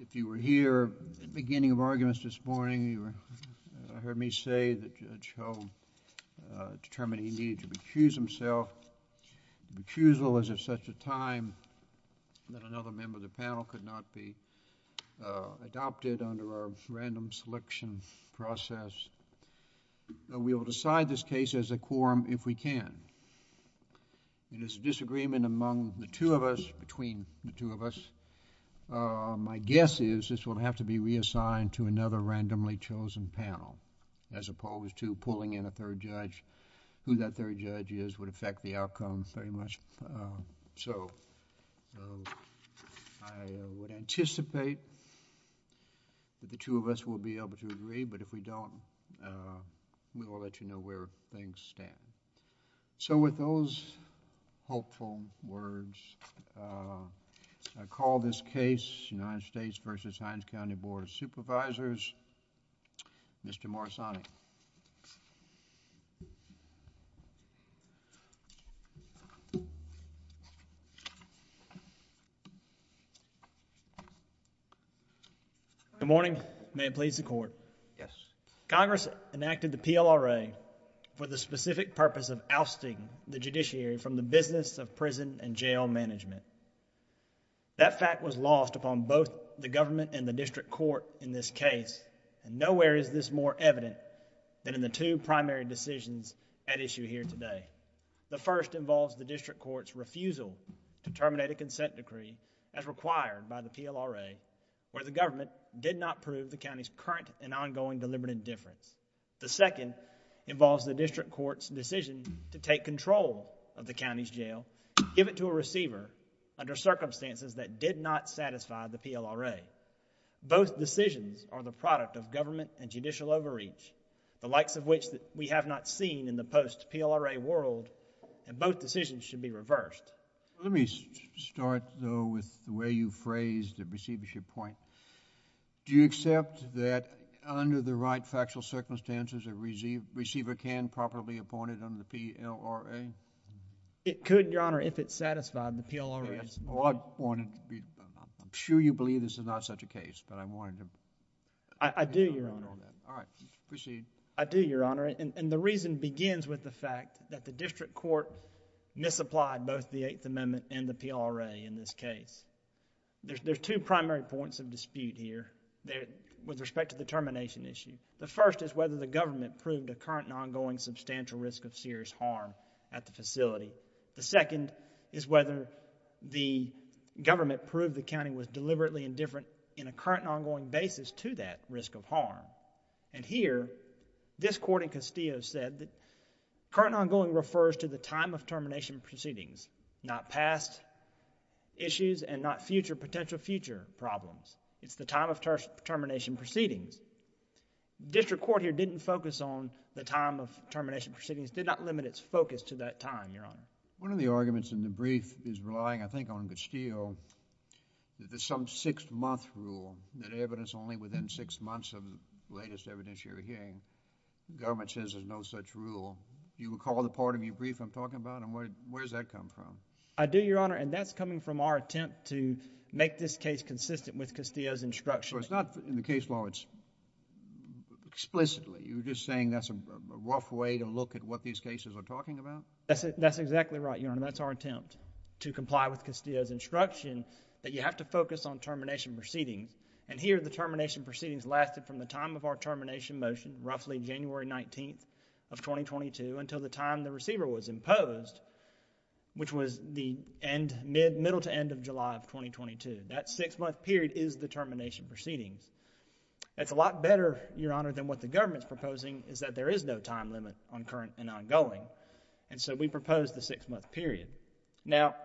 If you were here at the beginning of arguments this morning, you heard me say that Judge Hull determined he needed to recuse himself. The recusal was at such a time that another member of the panel could not be adopted under our random selection process. We will decide this case as a quorum if we can. It is a disagreement among the two of us, between the two of us. My guess is this will have to be reassigned to another randomly chosen panel as opposed to pulling in a third judge. Who that third judge is would affect the outcome very much so. I would anticipate that the two of us will be able to agree, but if we don't, we will let you know where things stand. So with those hopeful words, I call this case United States v. Hinds County Board of Supervisors, Mr. Morsani. Good morning. May it please the court. Yes. Congress enacted the PLRA for the specific purpose of ousting the judiciary from the business of prison and jail management. That fact was lost upon both the government and the district court in this case, and nowhere is this more evident than in the two primary decisions at issue here today. The first involves the district court's refusal to terminate a consent decree as required by the PLRA, where the government did not prove the county's current and ongoing deliberate indifference. The second involves the district court's decision to take control of the county's jail, give it to a receiver under circumstances that did not satisfy the PLRA. Both decisions are the product of government and judicial overreach, the likes of which we have not seen in the post-PLRA world, and both decisions should be reversed. Let me start, though, with the way you phrased the receivership point. Do you accept that under the right factual circumstances, a receiver can properly appoint it under the PLRA? It could, Your Honor, if it's such a case, but I wanted to... I do, Your Honor. All right. Proceed. I do, Your Honor, and the reason begins with the fact that the district court misapplied both the Eighth Amendment and the PLRA in this case. There's two primary points of dispute here with respect to the termination issue. The first is whether the government proved a current and ongoing substantial risk of serious harm at the facility. The second is whether the government proved the county was deliberately indifferent in a current and ongoing basis to that risk of harm, and here, this court in Castillo said that current and ongoing refers to the time of termination proceedings, not past issues and not future, potential future problems. It's the time of termination proceedings. The district court here didn't focus on the time of termination proceedings, did not limit its focus to that time, Your Honor. One of the arguments in the brief is relying, I think, on Castillo that there's some six-month rule that evidence only within six months of the latest evidence you're hearing, the government says there's no such rule. Do you recall the part of your brief I'm talking about, and where does that come from? I do, Your Honor, and that's coming from our attempt to make this case consistent with Castillo's instruction. So it's not in the case law. It's explicitly. You're just saying that's a rough way to look at what these cases are talking about? That's exactly right, Your Honor. That's our to comply with Castillo's instruction that you have to focus on termination proceedings, and here the termination proceedings lasted from the time of our termination motion, roughly January 19th of 2022, until the time the receiver was imposed, which was the middle to end of July of 2022. That six-month period is the termination proceedings. It's a lot better, Your Honor, than what the government's proposing is that there is no time on current and ongoing, and so we proposed the six-month period. Now,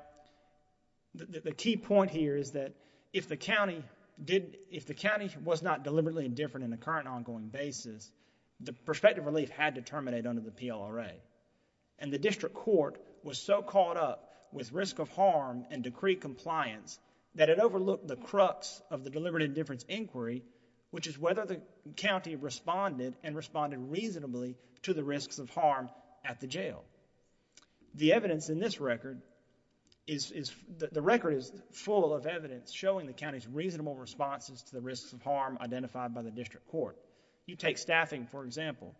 the key point here is that if the county was not deliberately indifferent in a current and ongoing basis, the prospective relief had to terminate under the PLRA, and the district court was so caught up with risk of harm and decree compliance that it overlooked the crux of the deliberate indifference inquiry, which is whether the county responded and responded reasonably to the risks of harm at the jail. The evidence in this record is, the record is full of evidence showing the county's reasonable responses to the risks of harm identified by the district court. You take staffing, for example.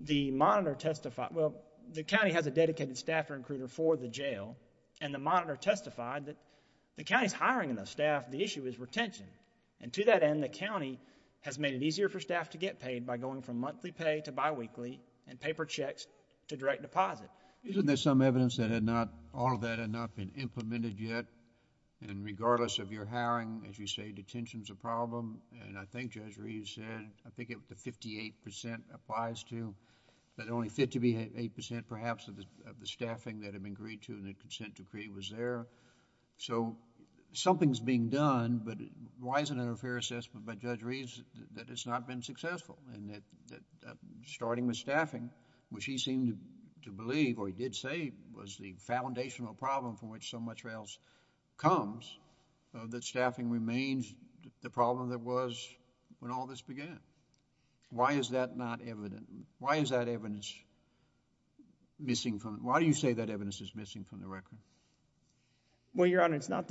The monitor testified, well, the county has a dedicated staff recruiter for the jail, and the monitor testified that the county's hiring enough staff. The issue is retention, and to that end, the county has made it easier for staff to get paid by going from monthly pay to bi-weekly and paper checks to direct deposit. Isn't there some evidence that had not, all of that had not been implemented yet, and regardless of your hiring, as you say, detention's a problem, and I think Judge Reed said, I think it was the 58 percent applies to, that only 58 percent, perhaps, of the staffing that had been agreed to in the consent decree was there, so something's being done, but why isn't it a fair assessment by Judge Reed that it's not been successful, and that starting with staffing, which he seemed to believe, or he did say was the foundational problem from which so much else comes, that staffing remains the problem that was when all this began. Why is that not evident? Why is that evidence missing from it? Why do you say that evidence is missing from the record? Well, Your Honor, it's not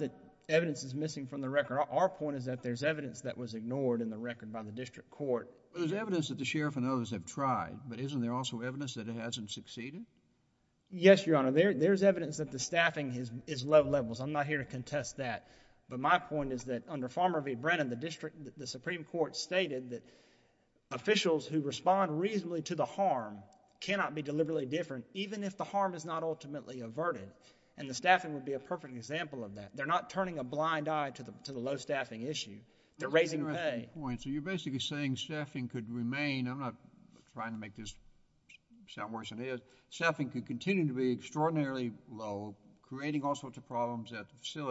that evidence is missing from the record. Our point is that there's evidence that was ignored in the record by the district court. There's evidence that the sheriff and others have tried, but isn't there also evidence that it hasn't succeeded? Yes, Your Honor, there's evidence that the staffing is low levels. I'm not here to contest that, but my point is that under Farmer v. Brennan, the district, the Supreme Court stated that officials who respond reasonably to the harm cannot be deliberately different, even if the harm is not ultimately averted, and the staffing would be a perfect example of that. They're not turning a blind eye to the low staffing issue. They're raising the pay. So you're basically saying staffing could remain, I'm not trying to make this sound worse than it is, staffing could continue to be extraordinarily low, creating all sorts of problems at the district level,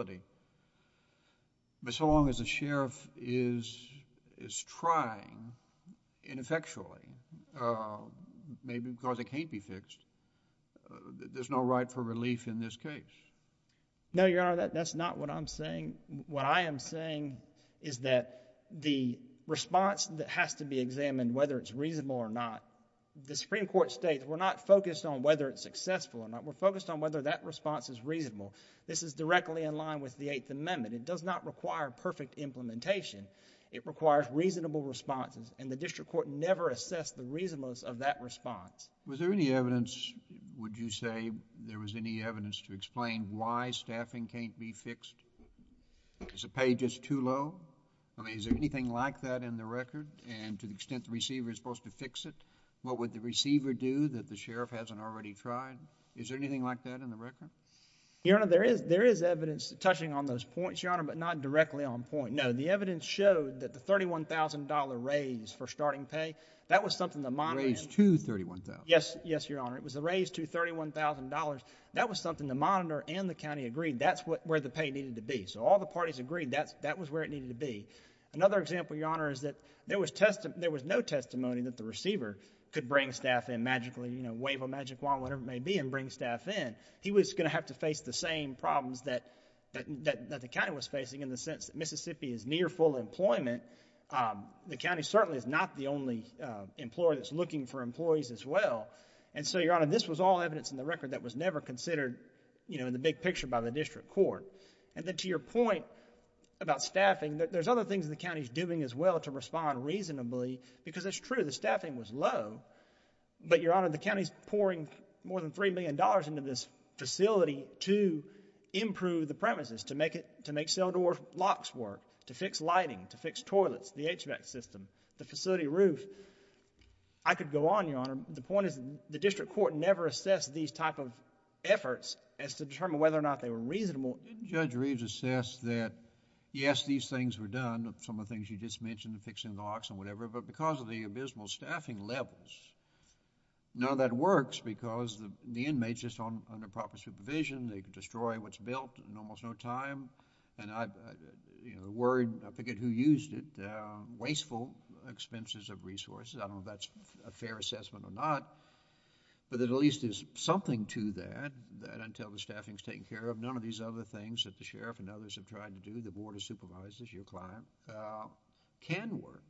and the district is trying, ineffectually, maybe because it can't be fixed, there's no right for relief in this case. No, Your Honor, that's not what I'm saying. What I am saying is that the response that has to be examined, whether it's reasonable or not, the Supreme Court states we're not focused on whether it's successful or not. We're focused on whether that response is reasonable. This is directly in line with the Eighth Amendment. It does not require perfect implementation. It requires reasonable responses, and the district court never assessed the reasonableness of that response. Was there any evidence, would you say, there was any evidence to explain why staffing can't be fixed? Is the pay just too low? I mean, is there anything like that in the record? And to the extent the receiver is supposed to fix it, what would the receiver do that the sheriff hasn't already tried? Is there anything like that in the record? Your Honor, there is evidence touching on those points, Your Honor, but not directly on point. No, the evidence showed that the $31,000 raise for starting pay, that was something the monitor raised to $31,000. Yes, Your Honor. It was a raise to $31,000. That was something the monitor and the county agreed that's where the pay needed to be. So all the parties agreed that was where it needed to be. Another example, Your Honor, is that there was no testimony that the receiver could bring staff in magically, you know, wave a magic wand, whatever it may be, and bring staff in. He was going to have to face the same problems that the county was facing in the sense that Mississippi is near full employment. The county certainly is not the only employer that's looking for employees as well. And so, Your Honor, this was all evidence in the record that was never considered, you know, in the big picture by the district court. And then to your point about staffing, there's other things the county's doing as well to respond reasonably because it's true the staffing was low. But, Your Honor, the county's pouring more than $3 million into this facility to improve the premises, to make cell door locks work, to fix lighting, to fix toilets, the HVAC system, the facility roof. I could go on, Your Honor. The point is the district court never assessed these type of efforts as to determine whether or not they were reasonable. Didn't Judge Reeves assess that, yes, these things were done, some of the things you just mentioned, the fixing of locks and whatever, but because of the abysmal staffing levels, none of that works because the inmates are just under proper supervision. They could destroy what's built in almost no time. And I've, you know, worried, I forget who used it, wasteful expenses of resources. I don't know if that's a fair assessment or not, but at least there's something to that, that until the staffing's taken care of, none of these other things that the sheriff and others have tried to do, the board of supervisors, your client, can work.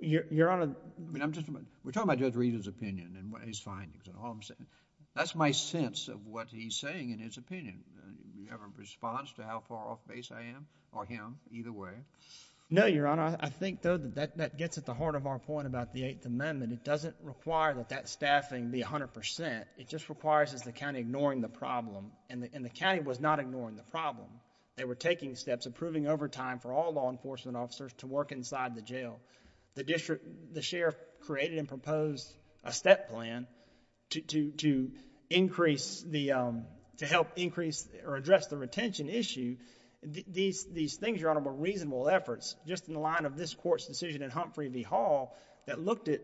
Your Honor... We're talking about Judge Reeves' opinion and his findings. That's my sense of what he's saying in his opinion. Do you have a response to how far off base I am or him, either way? No, Your Honor. I think, though, that gets at the heart of our point about the Eighth Amendment. It doesn't require that that staffing be 100 percent. It just requires the county ignoring the problem, and the county was not ignoring the problem. They were taking steps, approving overtime for all law enforcement officers to work inside the jail. The sheriff created and proposed a step plan to increase the... to help increase or address the retention issue. These things, Your Honor, were reasonable efforts, just in the line of this court's decision in Humphrey v. Hall that looked at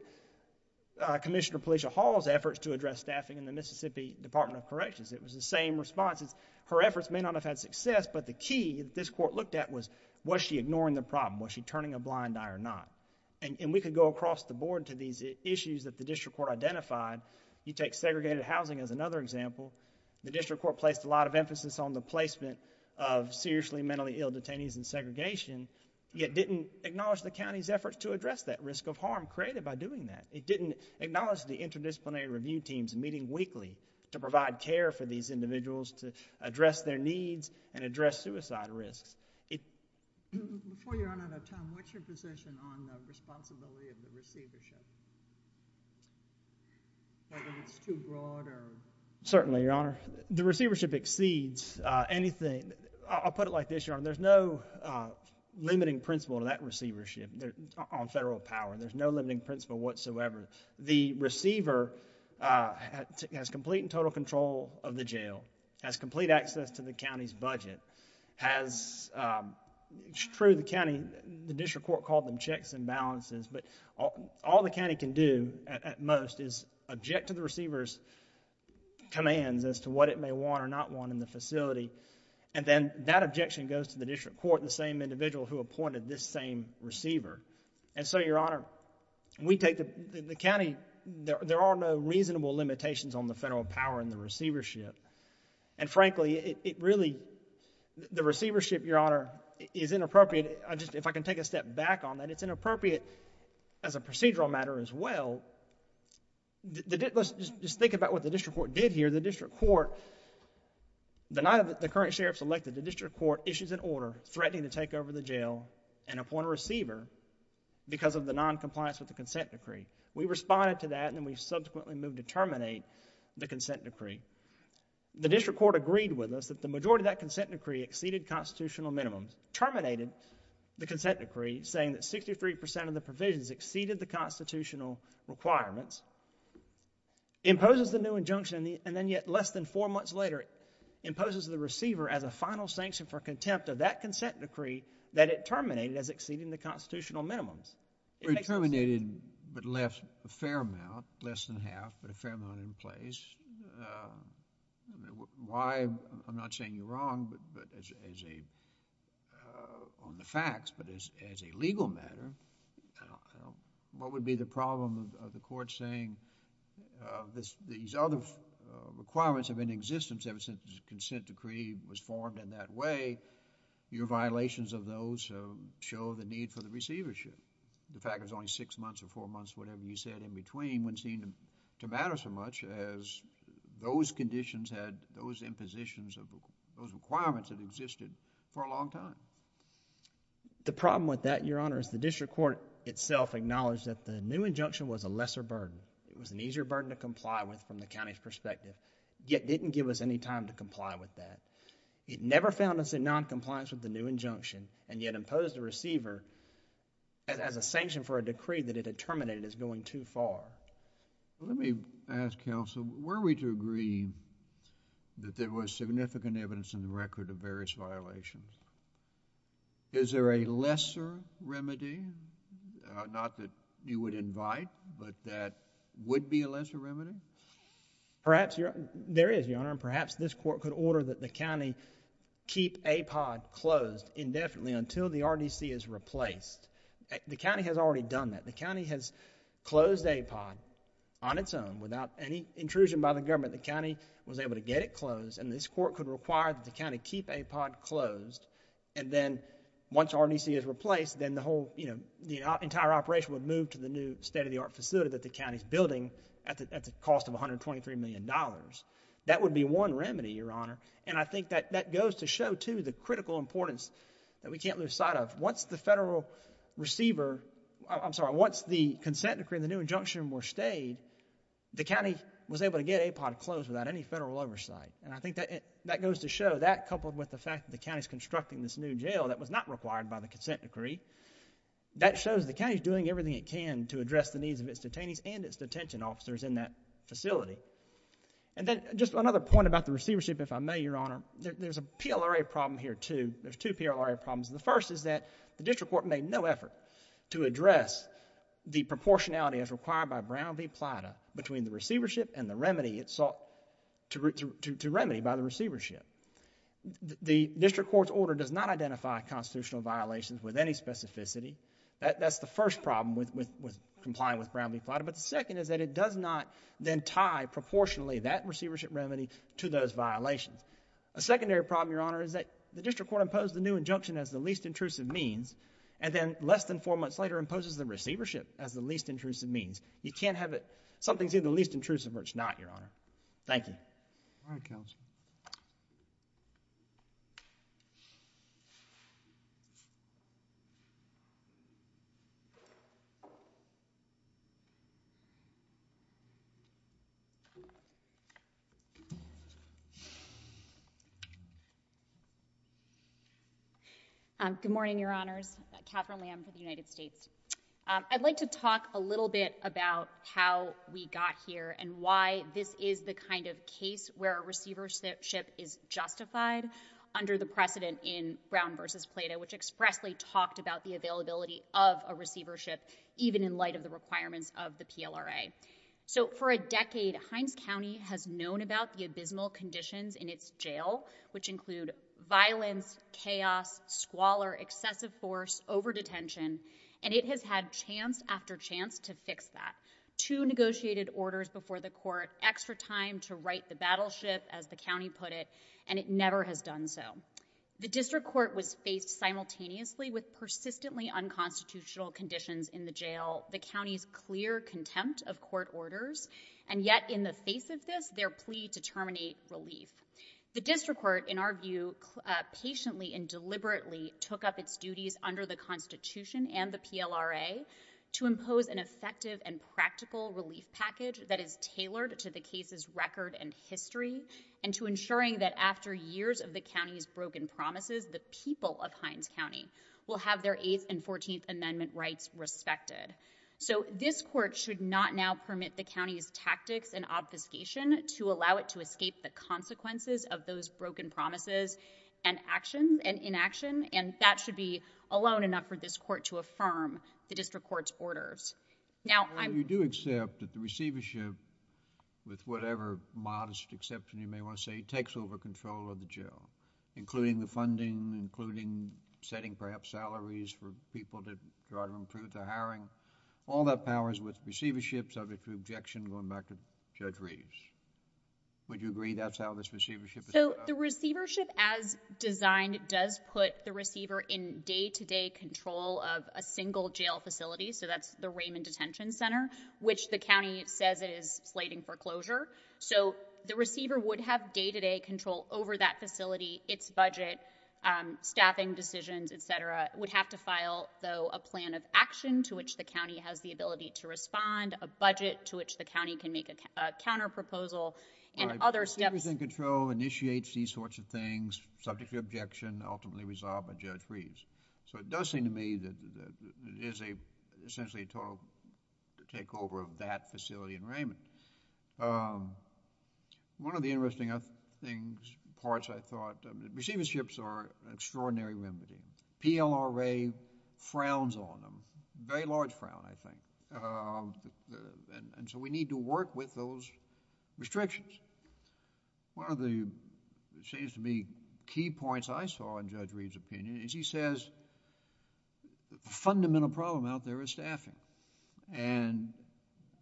Commissioner Policia Hall's efforts to address staffing in the Mississippi Department of Corrections. It was the same responses. Her efforts may not have had success, but the key that this court looked at was, was she ignoring the problem? Was she turning a blind eye or not? And we could go across the board to these issues that the district court identified. You take segregated housing as another example. The district court placed a lot of emphasis on the placement of seriously mentally ill detainees in segregation, yet didn't acknowledge the county's efforts to address that risk of harm created by doing that. It didn't acknowledge the address their needs and address suicide risks. Before you run out of time, what's your position on the responsibility of the receivership? Whether it's too broad or... Certainly, Your Honor. The receivership exceeds anything... I'll put it like this, Your Honor. There's no limiting principle to that receivership on federal power. There's no limiting principle whatsoever. The receiver has complete and total control of the jail, has complete access to the county's budget, has... it's true the county... the district court called them checks and balances, but all the county can do at most is object to the receiver's commands as to what it may want or not want in the facility, and then that objection goes to the district court and the same individual who appointed this same receiver. And so, Your Honor, we take the county... there are no reasonable limitations on the federal power in the district court. And frankly, it really... the receivership, Your Honor, is inappropriate. If I can take a step back on that, it's inappropriate as a procedural matter as well. Let's just think about what the district court did here. The district court... the night of the current sheriff's elected, the district court issues an order threatening to take over the jail and appoint a receiver because of the noncompliance with the consent decree. We responded to that, and then we subsequently moved to terminate the consent decree. The district court agreed with us that the majority of that consent decree exceeded constitutional minimums, terminated the consent decree saying that 63% of the provisions exceeded the constitutional requirements, imposes the new injunction, and then yet less than four months later, imposes the receiver as a final sanction for contempt of that consent decree that it terminated as exceeding the constitutional minimums. We terminated but left a fair amount, less than half, but a fair amount in place. I mean, why... I'm not saying you're wrong, but as a... on the facts, but as a legal matter, what would be the problem of the court saying this... these other requirements have been in existence ever since the consent decree was formed in that way. Your violations of those show the need for the receivership. The fact it was only six months or four months, whatever you said in between, wouldn't seem to matter so much as those conditions had those impositions of those requirements that existed for a long time. The problem with that, Your Honor, is the district court itself acknowledged that the new injunction was a lesser burden. It was an easier burden to comply with from the county's perspective, yet didn't give us any time to comply with that. It never found us in noncompliance with the new injunction, and yet imposed the receiver as a sanction for a decree that it had terminated as going too far. Let me ask, Counsel, were we to agree that there was significant evidence in the record of various violations? Is there a lesser remedy, not that you would invite, but that would be a lesser remedy? Perhaps, Your... there is, Your Honor, and perhaps this The county has already done that. The county has closed APOD on its own without any intrusion by the government. The county was able to get it closed, and this court could require that the county keep APOD closed, and then once RDC is replaced, then the entire operation would move to the new state-of-the-art facility that the county's building at the cost of $123 million. That would be one remedy, Your Honor, and I think that goes to show, too, the critical importance that we can't lose sight of. Once the federal receiver... I'm sorry, once the consent decree and the new injunction were stayed, the county was able to get APOD closed without any federal oversight, and I think that goes to show that, coupled with the fact that the county's constructing this new jail that was not required by the consent decree, that shows the county's doing everything it can to address the needs of its detainees and its detention officers in that facility, and then just another point about the receivership, if I may, Your Honor. There's a PLRA problem here, too. There's two PLRA problems. The first is that the district court made no effort to address the proportionality as required by Brown v. Plata between the receivership and the remedy it sought to remedy by the receivership. The district court's order does not identify constitutional violations with any specificity. That's the first problem with complying with Brown v. Plata, but the second is that it does not then tie proportionally that secondary problem, Your Honor, is that the district court imposed the new injunction as the least intrusive means, and then less than four months later imposes the receivership as the least intrusive means. You can't have it, something's either least intrusive or it's not, so it's not a good thing. Good morning, Your Honors. Katherine Lamb for the United States. I'd like to talk a little bit about how we got here and why this is the kind of case where a receivership is justified under the precedent in Brown v. Plata, which expressly talked about the availability of a receivership, even in light of the requirements of the PLRA. So for a decade, Hines County has known about the abysmal conditions in its jail, which include violence, chaos, squalor, excessive force, over-detention, and it has had chance after chance to fix that. Two negotiated orders before the court, extra time to right the battleship, as the county put it, and it never has done so. The district court was faced simultaneously with persistently unconstitutional conditions in the jail, the county's clear contempt of court orders, and yet in the face of this, their plea to terminate relief. The district court, in our view, patiently and deliberately took up its duties under the Constitution and the PLRA to impose an effective and practical relief package that is tailored to the case's record and history, and to ensuring that after years of the county's broken promises, the people of Hines County will have their Eighth and Fourteenth Amendment rights respected. So this court should not now be able to use the county's tactics and obfuscation to allow it to escape the consequences of those broken promises and actions and inaction, and that should be alone enough for this court to affirm the district court's orders. Now, I'm... Well, you do accept that the receivership, with whatever modest exception you may want to say, takes over control of the jail, including the funding, including setting perhaps salaries for people that drive them through to Judge Reeves. Would you agree that's how this receivership... So the receivership, as designed, does put the receiver in day-to-day control of a single jail facility, so that's the Raymond Detention Center, which the county says it is slating for closure. So the receiver would have day-to-day control over that facility, its budget, staffing decisions, etc. It would have to file, though, a plan of action to which the county has the ability to make a counterproposal and other steps... Everything in control initiates these sorts of things, subject to objection, ultimately resolved by Judge Reeves. So it does seem to me that it is essentially a total takeover of that facility in Raymond. One of the interesting parts, I thought, receiverships are an extraordinary remedy. PLRA frowns on them, very large frown, I think, and so we need to work with those restrictions. One of the, it seems to me, key points I saw in Judge Reeves' opinion is he says that the fundamental problem out there is staffing, and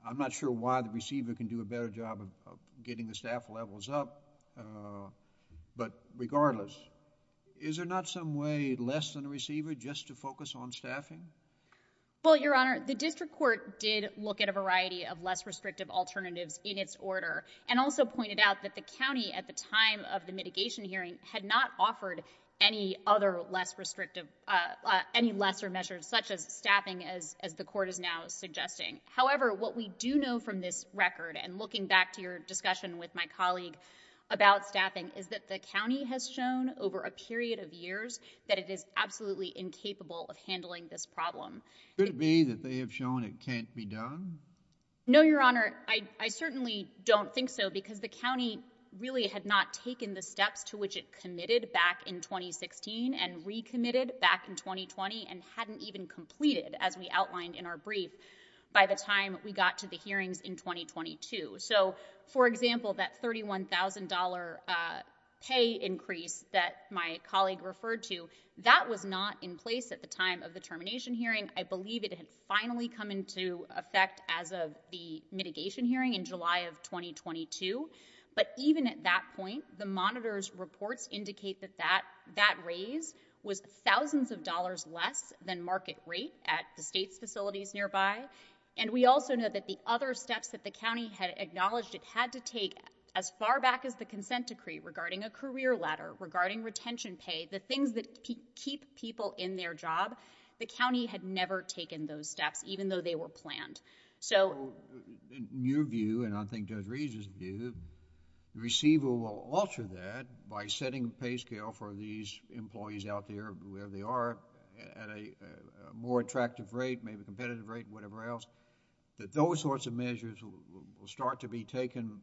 I'm not sure why the receiver can do a better job of getting the staff levels up, but regardless, is there not some way less than the receiver just to focus on staffing? Well, Your Honor, the district court did look at a variety of less restrictive alternatives in its order and also pointed out that the county, at the time of the mitigation hearing, had not offered any other less restrictive, any lesser measures such as staffing, as the court is now suggesting. However, what we do know from this record, and looking back to your discussion with my colleague about staffing, is that the county is absolutely incapable of handling this problem. Could it be that they have shown it can't be done? No, Your Honor, I certainly don't think so because the county really had not taken the steps to which it committed back in 2016 and recommitted back in 2020 and hadn't even completed, as we outlined in our brief, by the time we got to the hearings in 2022. So, for example, that $31,000 pay increase that my colleague referred to, that was not in place at the time of the termination hearing. I believe it had finally come into effect as of the mitigation hearing in July of 2022, but even at that point, the monitor's reports indicate that that that raise was thousands of dollars less than market rate at the state's facilities nearby, and we also know that the other steps that the county had acknowledged it had to take as far back as the consent decree regarding a career ladder, regarding retention pay, the things that keep people in their job, the county had never taken those steps, even though they were planned. So, in your view, and I think Judge Reed's view, the receiver will alter that by setting a pay scale for these employees out there, wherever they are, at a more attractive rate, maybe competitive rate, whatever else, that those sorts of measures will start to be taken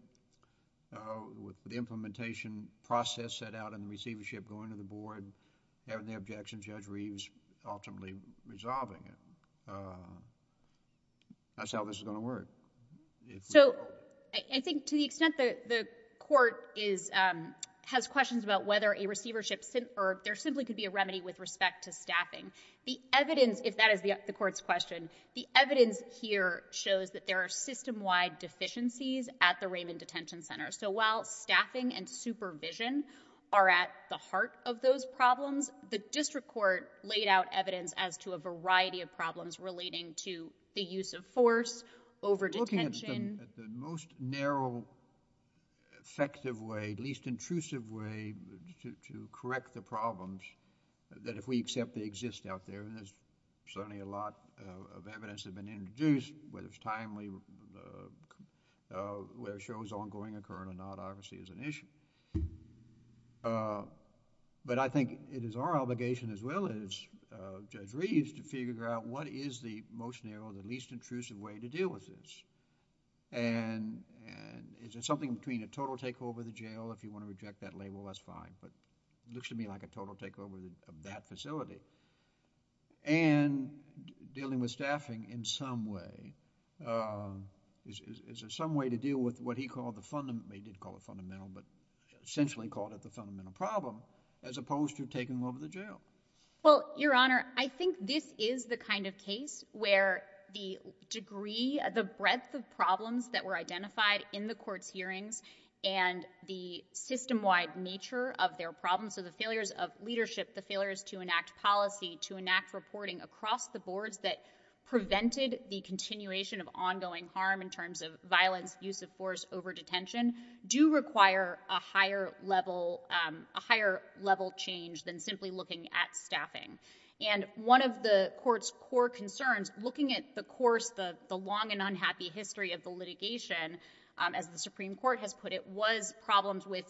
with the implementation process set out and the receivership going to the board, having the objections, Judge Reed's ultimately resolving it. That's how this is going to work. So, I think to the extent that the court is, has questions about whether a receivership, or there simply could be a remedy with respect to a career ladder, I don't think it's going to work. I don't think it's going to work in the Raymond Detention Center. The evidence here shows that there are system-wide deficiencies at the Raymond Detention Center. So, while staffing and supervision are at the heart of those problems, the district court laid out evidence as to a variety of problems relating to the use of force, over-detention. Looking at the most narrow, effective way, least intrusive way to correct the problems, that if we accept they exist out there, and there's certainly a lot of evidence that's been introduced, whether it's timely, whether it shows ongoing occurrence or not, obviously is an issue. But I think it is our obligation as well as Judge Reed's to figure out what is the most narrow, the least intrusive way to deal with this. And is there something between a total takeover of the jail, if you want to reject that label, that's fine, but it looks to me like a total takeover of that facility. And dealing with staffing in some way, is there some way to deal with what he called the, he did call it fundamental, but essentially called it the fundamental problem, as opposed to taking them over to jail? Well, Your Honor, I think this is the kind of case where the degree, the breadth of problems that were identified in the court's hearings, and the system-wide nature of their problems, so the failures of leadership, the failures to enact policy, to enact reporting across the boards that prevented the continuation of ongoing harm in terms of violence, use of force, over-detention, do require a higher level, a higher level change than simply looking at staffing. And one of the court's core concerns, looking at the course, the long and unhappy history of the litigation, as the Supreme Court has put it, was problems with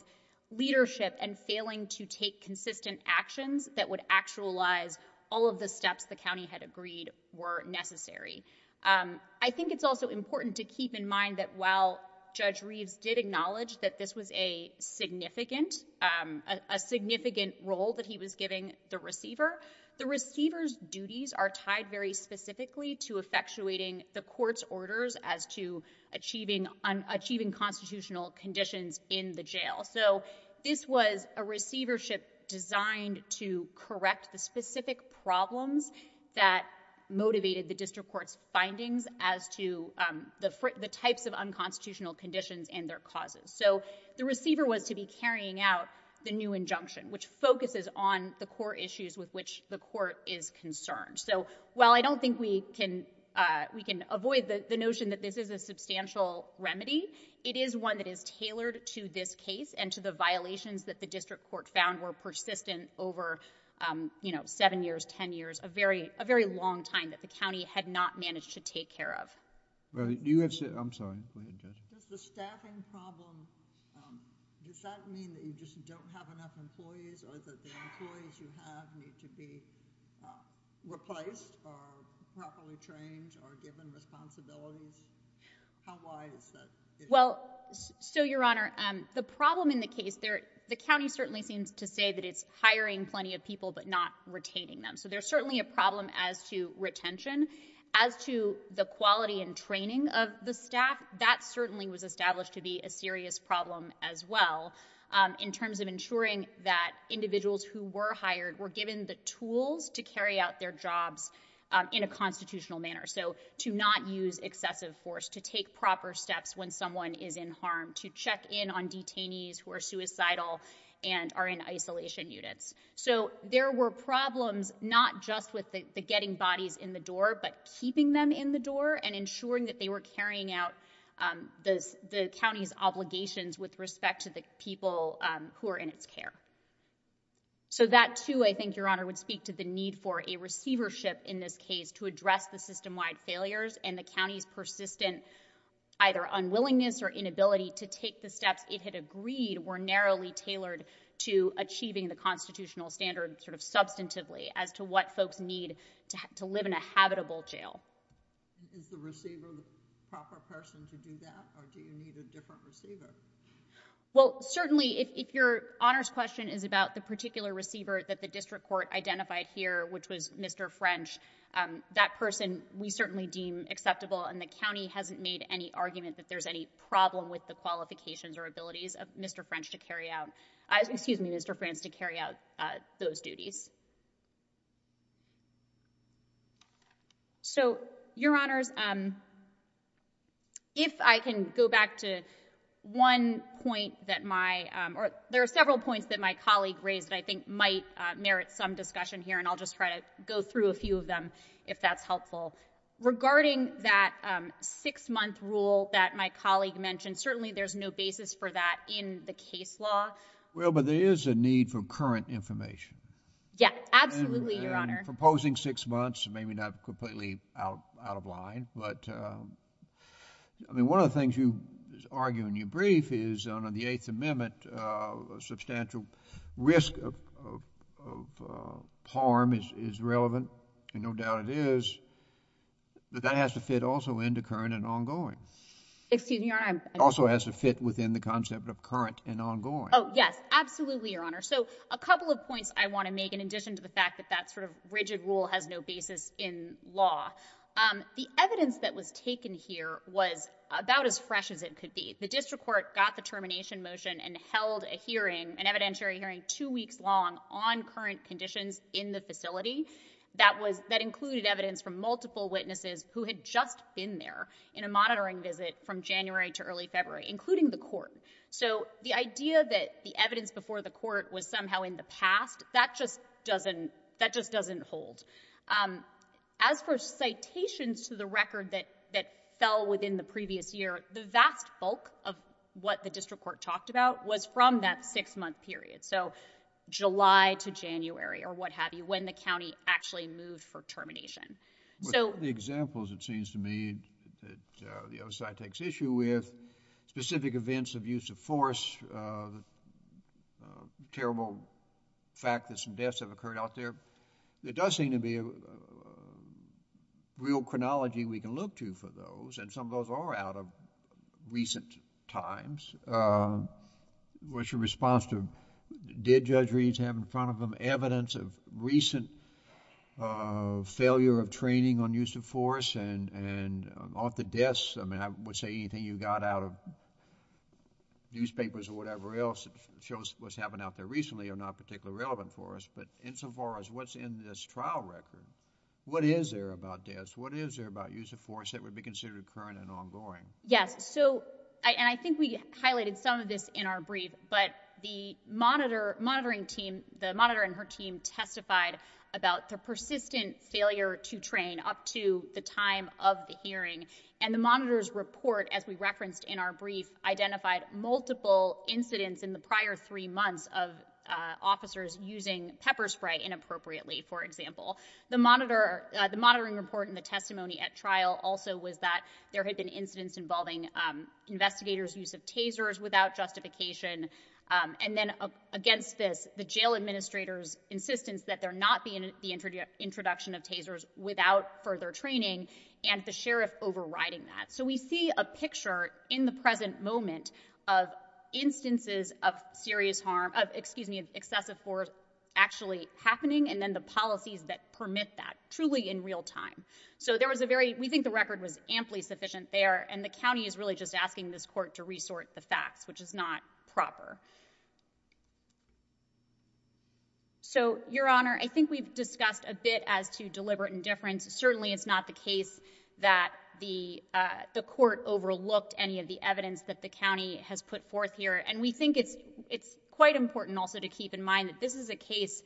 leadership and failing to take consistent actions that would actualize all of the steps the county had agreed were necessary. I think it's also important to keep in mind that while Judge Reeves did acknowledge that this was a significant, um, a significant role that he was giving the receiver, the receiver's duties are tied very specifically to effectuating the court's orders as to achieving un, achieving constitutional conditions in the jail. So this was a receivership designed to correct the specific problems that motivated the district court's findings as to, um, the, the types of unconstitutional conditions and their causes. So the receiver was to be carrying out the new injunction, which focuses on the core issues with which the court is concerned. So while I don't think we can, uh, we can avoid the, the notion that this is a substantial remedy, it is one that is tailored to this case and to the violations that the district court found were persistent over, um, you know, seven years, 10 years, a very, a very long time that the county had not managed to take care of. Well, you have said, I'm sorry, go ahead, Judge. Does the staffing problem, um, does that mean that you just don't have enough employees or that the employees you have need to be, uh, replaced or properly trained or given responsibilities? How, why is that? Well, so Your Honor, um, the problem in the case there, the county certainly seems to say that it's hiring plenty of people, but not retaining them. So there's certainly a problem as to retention as to the quality and training of the staff that certainly was established to be a serious problem as well. Um, in terms of ensuring that individuals who were hired were given the tools to carry out their jobs, um, in a constitutional manner. So to not use excessive force, to take proper steps when someone is in harm, to check in on detainees who are suicidal and are in isolation units. So there were problems not just with the, the getting bodies in the door, but keeping them in the door and ensuring that they were carrying out, um, this, the county's obligations with respect to the people, um, who are in its care. So that too, I think Your Honor would speak to the need for a receivership in this case to address the system wide failures and the county's persistent either unwillingness or inability to take the steps it had agreed were narrowly tailored to achieving the constitutional standard sort of substantively as to what folks need to live in a habitable jail. Is the receiver the proper person to do that or do you need a different receiver? Well, certainly if, if Your Honor's question is about the particular receiver that the district court identified here, which was Mr. French, um, that person we certainly deem acceptable and the qualifications or abilities of Mr. French to carry out, uh, excuse me, Mr. France to carry out, uh, those duties. So Your Honor's, um, if I can go back to one point that my, um, or there are several points that my colleague raised that I think might, uh, merit some discussion here and I'll just try to go through a few of them if that's helpful regarding that, um, six month rule that my colleague mentioned. Certainly there's no basis for that in the case law. Well, but there is a need for current information. Yeah, absolutely, Your Honor. Proposing six months, maybe not completely out, out of line, but, um, I mean, one of the things you argue in your brief is under the eighth amendment, uh, substantial risk of, of, of, uh, harm is, is relevant and no doubt it is, but that has to fit also into current and ongoing. Excuse me, Your Honor, I'm- Also has to fit within the concept of current and ongoing. Oh, yes, absolutely, Your Honor. So a couple of points I want to make in addition to the fact that that sort of rigid rule has no basis in law. Um, the evidence that was taken here was about as fresh as it could be. The district court got the termination motion and held a hearing, an evidentiary hearing two weeks long on current conditions in the facility that was, that January to early February, including the court. So the idea that the evidence before the court was somehow in the past, that just doesn't, that just doesn't hold. Um, as for citations to the record that, that fell within the previous year, the vast bulk of what the district court talked about was from that six month period. So July to January or what have you, when the county actually moved for termination. So- The issue with specific events of use of force, uh, the terrible fact that some deaths have occurred out there, there does seem to be a real chronology we can look to for those, and some of those are out of recent times. Uh, what's your response to, did Judge Reed have in front of him evidence of recent, uh, failure of training on use of force and, and off the desk, I mean, I would say anything you got out of newspapers or whatever else that shows what's happened out there recently are not particularly relevant for us. But insofar as what's in this trial record, what is there about deaths? What is there about use of force that would be considered current and ongoing? Yes. So, and I think we highlighted some of this in our brief, but the monitor, monitoring team, the monitor and her team testified about the persistent failure to train up to the time of the hearing. And the monitor's report, as we referenced in our brief, identified multiple incidents in the prior three months of, uh, officers using pepper spray inappropriately, for example. The monitor, uh, the monitoring report and the testimony at trial also was that there had been incidents involving, um, investigators' use of tasers without justification. Um, and then against this, the jail administrator's insistence that there not being the introduction of tasers without further training, and the sheriff overriding that. So we see a picture in the present moment of instances of serious harm, of, excuse me, excessive force actually happening, and then the policies that permit that, truly in real time. So there was a very, we think the record was amply sufficient there, and the county is really just asking this court to resort the facts, which is not proper. So, Your Honor, I think we've discussed a bit as to deliberate indifference. Certainly, it's not the case that the, uh, the court overlooked any of the evidence that the county has put forth here. And we think it's, it's quite important also to keep in mind that this is a case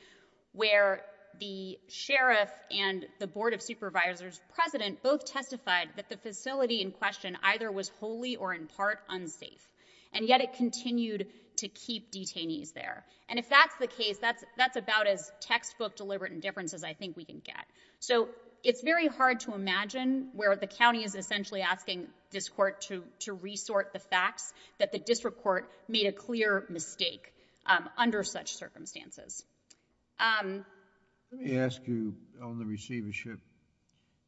where the sheriff and the Board of Supervisors president both testified that the facility in question either was wholly or in part unsafe. And yet it continued to be unsafe. So we think it's important to keep detainees there. And if that's the case, that's, that's about as textbook deliberate indifference as I think we can get. So it's very hard to imagine where the county is essentially asking this court to, to resort the facts that the district court made a clear mistake, um, under such circumstances. Um. Let me ask you on the receivership,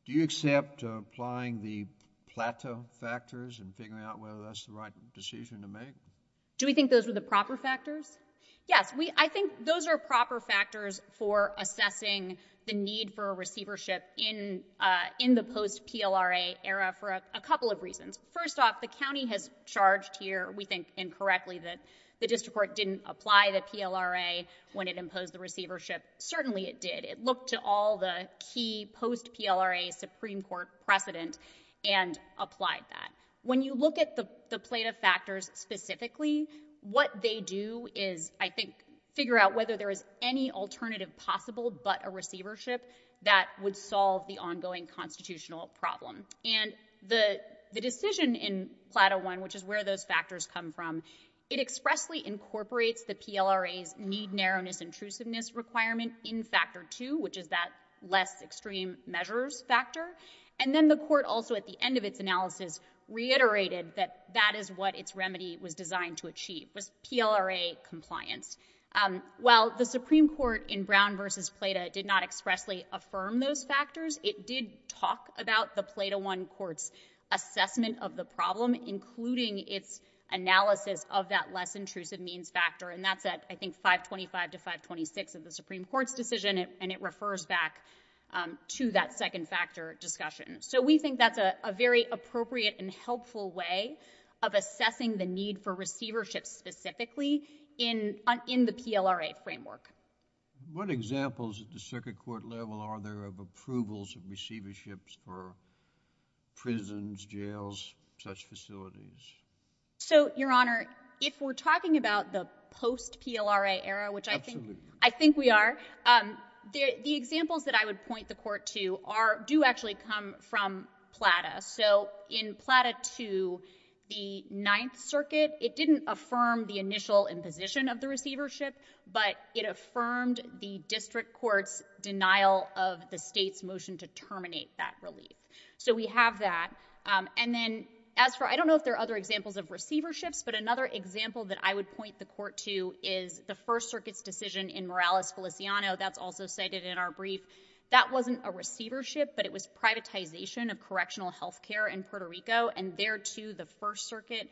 do you accept applying the plateau factors and figuring out whether that's the right decision to make? Do we think those were the proper factors? Yes. We, I think those are proper factors for assessing the need for a receivership in, uh, in the post PLRA era for a couple of reasons. First off, the county has charged here, we think incorrectly, that the district court didn't apply the PLRA when it imposed the receivership. Certainly it did. It looked to all the key post PLRA Supreme Court precedent and applied that. When you look at the, the plate of factors specifically, what they do is, I think, figure out whether there is any alternative possible, but a receivership that would solve the ongoing constitutional problem. And the, the decision in plateau one, which is where those factors come from, it expressly incorporates the PLRAs need narrowness intrusiveness requirement in factor two, which is that less extreme measures factor. And then the court also at the end of its analysis reiterated that that is what its remedy was designed to achieve was PLRA compliance. Um, while the Supreme Court in Brown versus Plato did not expressly affirm those factors, it did talk about the Plato one courts assessment of the problem, including its analysis of that less intrusive means factor. And that's at, I think, five 25 to five 26 of the Supreme Court's decision. And it refers back, um, to that second factor discussion. So we think that's a very appropriate and helpful way of assessing the need for receivership specifically in, in the PLRA framework. What examples at the circuit court level are there of approvals of receiverships for prisons, jails, such facilities? So Your Honor, if we're talking about the post PLRA era, which I think, I think we are, um, the, the examples that I would point the court to are, do actually come from Plata. So in Plata to the ninth circuit, it didn't affirm the initial imposition of the receivership, but it affirmed the district court's denial of the state's motion to terminate that relief. So we have that. Um, and then as for, I don't know if there are other examples of receiverships, but another example that I would point the court to is the first circuit's decision in Morales Feliciano. That's also cited in our brief. That wasn't a receivership, but it was privatization of correctional health care in Puerto Rico. And there too, the first circuit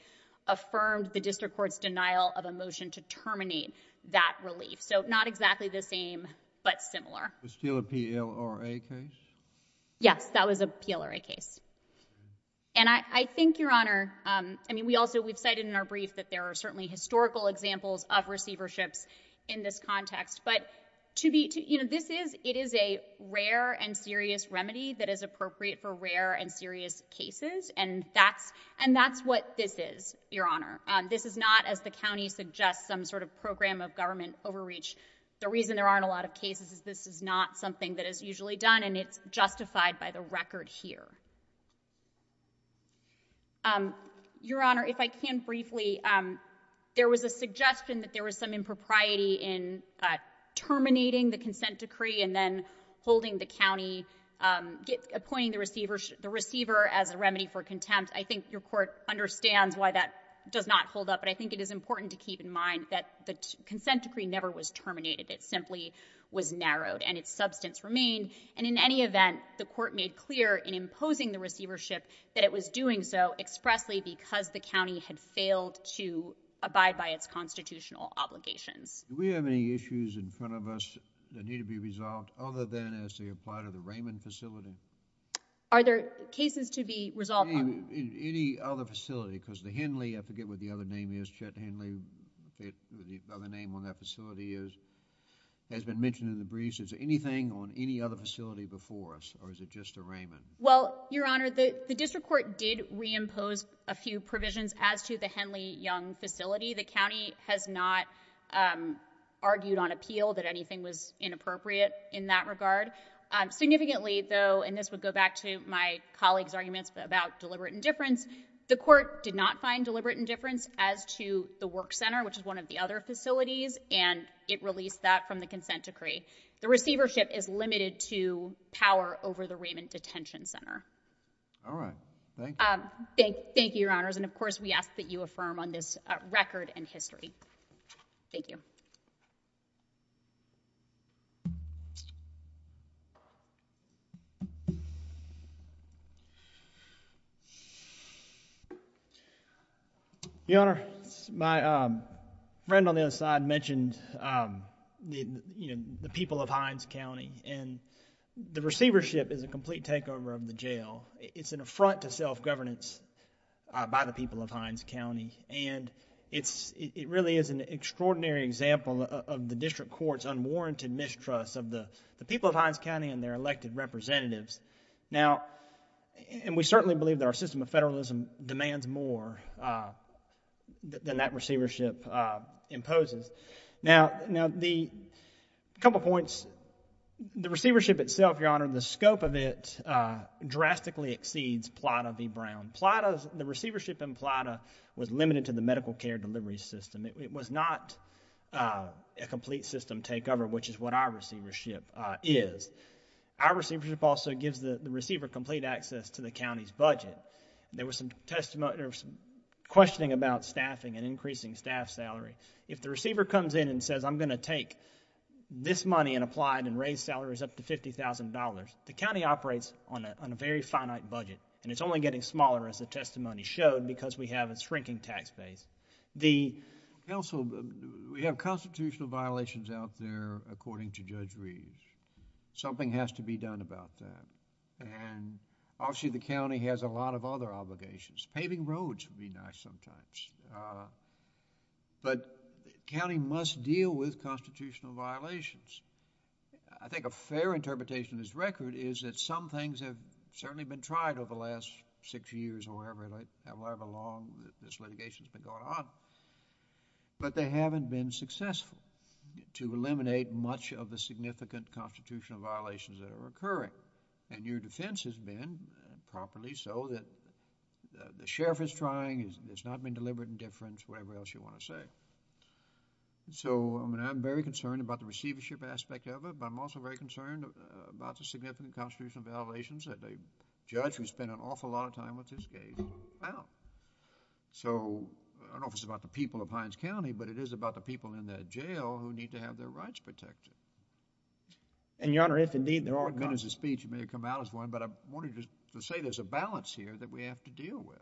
affirmed the district court's denial of a motion to terminate that relief. So not exactly the same, but similar. Was it still a PLRA case? Yes, that was a PLRA case. And I, I think Your Honor, there are historical examples of receiverships in this context, but to be, to, you know, this is, it is a rare and serious remedy that is appropriate for rare and serious cases. And that's, and that's what this is, Your Honor. Um, this is not, as the county suggests, some sort of program of government overreach. The reason there aren't a lot of cases is this is not something that is usually done and it's justified by the record here. Um, there was a suggestion that there was some impropriety in terminating the consent decree and then holding the county, um, appointing the receivership, the receiver as a remedy for contempt. I think your court understands why that does not hold up, but I think it is important to keep in mind that the consent decree never was terminated. It simply was narrowed and its substance remained. And in any event, the court made clear in imposing the receivership that it was doing so expressly because the county had failed to abide by its constitutional obligations. Do we have any issues in front of us that need to be resolved other than as they apply to the Raymond facility? Are there cases to be resolved? Any other facility because the Henley, I forget what the other name is, Chet Henley, the other name on that facility is, has been mentioned in the briefs. Is there anything on any other facility before us or is it just a Raymond? Well, Your Honor, the district court did reimpose a few provisions as to the Henley Young facility. The county has not, um, argued on appeal that anything was inappropriate in that regard. Um, significantly though, and this would go back to my colleague's arguments about deliberate indifference. The court did not find deliberate indifference as to the work center, which is one of the other facilities, and it released that from the consent decree. The receivership is limited to power over the Raymond detention center. All right. Thank you. Um, thank you, Your Honors. And of course, we ask that you affirm on this record and history. Thank you. Your Honor, my, um, friend on the other side mentioned, um, you know, the people of Hines County and the receivership is a complete takeover of the jail. It's an affront to self-governance, uh, by the people of Hines County, and it's, it really is an extraordinary example of the district court's unwarranted mistrust of the, the people of Hines County and their elected representatives. Now, and we certainly believe that our system of federalism demands more, uh, than that receivership, uh, imposes. Now, now the couple points, the receivership itself, Your Honor, the scope of it, uh, drastically exceeds PLATA v. Brown. PLATA's, the receivership in PLATA was limited to the medical care delivery system. It, it was not, uh, a complete system takeover, which is what our receivership, uh, is. Our receivership also gives the, the receiver complete access to the county's budget. There was some testimony, there was some questioning about staffing and increasing staff salary. If the receiver comes in and says, I'm going to take this money and apply it and raise salaries up to $50,000, the county operates on a, on a very finite budget, and it's only getting smaller as the testimony showed because we have a shrinking tax base. The... Counsel, we have constitutional violations out there according to Judge Reeves. Something has to be done about that, and obviously the county has a lot of other obligations. Paving roads would be nice sometimes, uh, but the county must deal with constitutional violations. I think a fair interpretation of this record is that some things have certainly been tried over the last six years or however, however long that this litigation's been going on, but they haven't been successful to eliminate much of the significant constitutional violations that are occurring. And your defense has been, properly so, that the, the sheriff is trying, there's not been deliberate indifference, whatever else you want to say. So, I mean, I'm very concerned about the receivership aspect of it, but I'm also very concerned about the significant constitutional violations that the judge who spent an awful lot of time with this case found. So, I don't know if it's about the people of Hines County, but it is about the people in that jail who need to have their rights protected. And, your Honor, if indeed there are... One minute of speech, you may have come out as one, but I wanted to say there's a balance here that we have to deal with.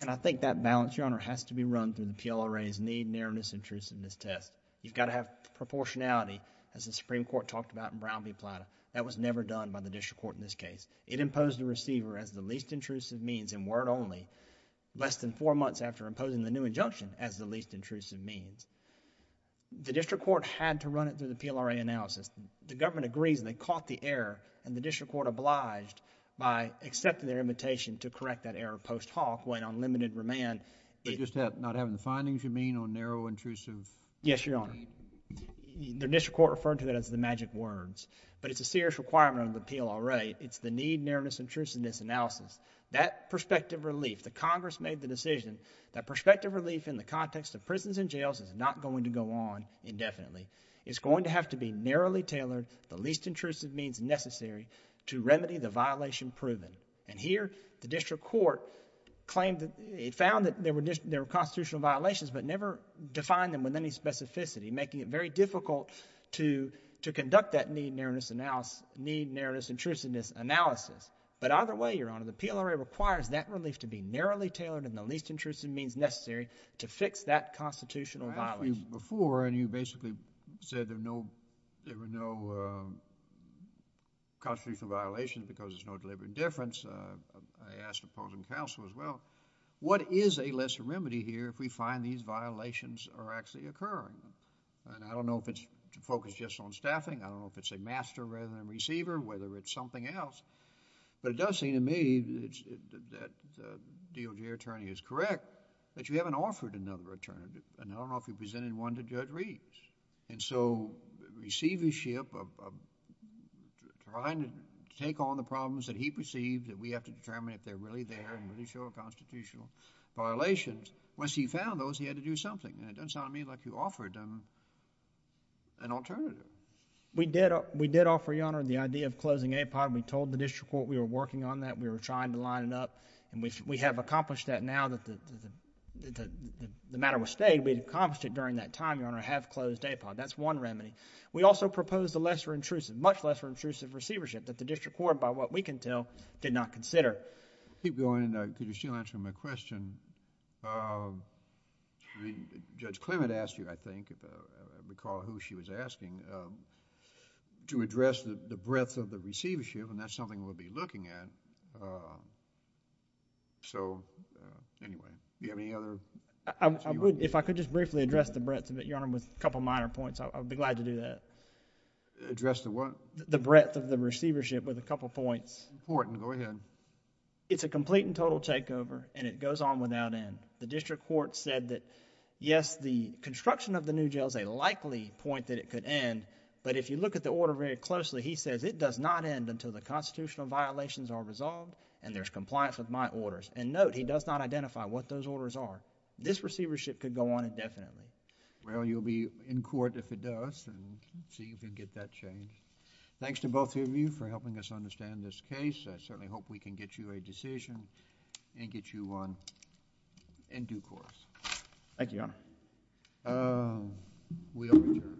And I think that balance, your Honor, has to be run through the PLRA's need, narrowness, intrusiveness test. You've got to have proportionality, as the Supreme Court talked about in Brown v. Plata. That was never done by the district court in this case. It imposed the receiver as the least intrusive means, and word only, less than four months after imposing the new injunction as the least intrusive means. The district court had to run it through the PLRA analysis. The government agrees, and they caught the error, and the district court obliged by accepting their invitation to correct that error post hoc, went on limited remand. But just not having the findings, you mean, on narrow, intrusive... Yes, your Honor. The district court referred to that as the magic words. But it's a serious requirement of the PLRA. It's the need, narrowness, intrusiveness analysis. That perspective relief, the Congress made the decision, that perspective relief in the context of prisons and jails is not going to go on indefinitely. It's going to have to be narrowly tailored, the least intrusive means necessary, to remedy the violation proven. And here, the district court claimed that... it found that there were constitutional violations, but never defined them with any specificity, making it very difficult to conduct that need, narrowness, intrusiveness analysis. But either way, your Honor, the PLRA requires that relief to be narrowly tailored and the district court has to be able to do that. I asked you before, and you basically said there were no constitutional violations because there's no deliberate difference. I asked opposing counsel as well, what is a lesser remedy here if we find these violations are actually occurring? And I don't know if it's focused just on staffing. I don't know if it's a master rather than a receiver, whether it's something else. But it does seem to me that the DOJ attorney is correct that you haven't offered another alternative and I don't know if you presented one to Judge Reeves. And so, receivership of trying to take on the problems that he perceived that we have to determine if they're really there and really show constitutional violations, once he found those, he had to do something. And it doesn't sound to me like you offered an alternative. We did offer, your Honor, the idea of closing APOD. We told the district court we were working on that. We were trying to line it up. And we have accomplished that now that the matter was stayed. We accomplished it during that time, your Honor. I have closed APOD. That's one remedy. We also proposed a lesser intrusive, much lesser intrusive receivership that the district court, by what we can tell, did not consider. Keep going. Could you still answer my question? Judge Clement asked you, I think, if I recall who she was asking, to address the breadth of the receivership and that's something we'll be looking at. So, anyway, do you have any other... If I could just briefly address the breadth of it, your Honor, with a couple minor points, I would be glad to do that. Address the what? The breadth of the receivership with a couple points. Important. Go ahead. It's a complete and total takeover and it goes on without end. The district court said that, yes, the construction of the new jail is a likely point that it could end, but if you look at the order very closely, he says it does not end until the constitutional violations are resolved and there's compliance with my orders. And, note, he does not identify what those orders are. This receivership could go on indefinitely. Well, you'll be in court if it does and see if you can get that changed. Thanks to both of you for helping us understand this case. I certainly hope we can get you a decision and get you one in due course. Thank you, Your Honor. We are adjourned.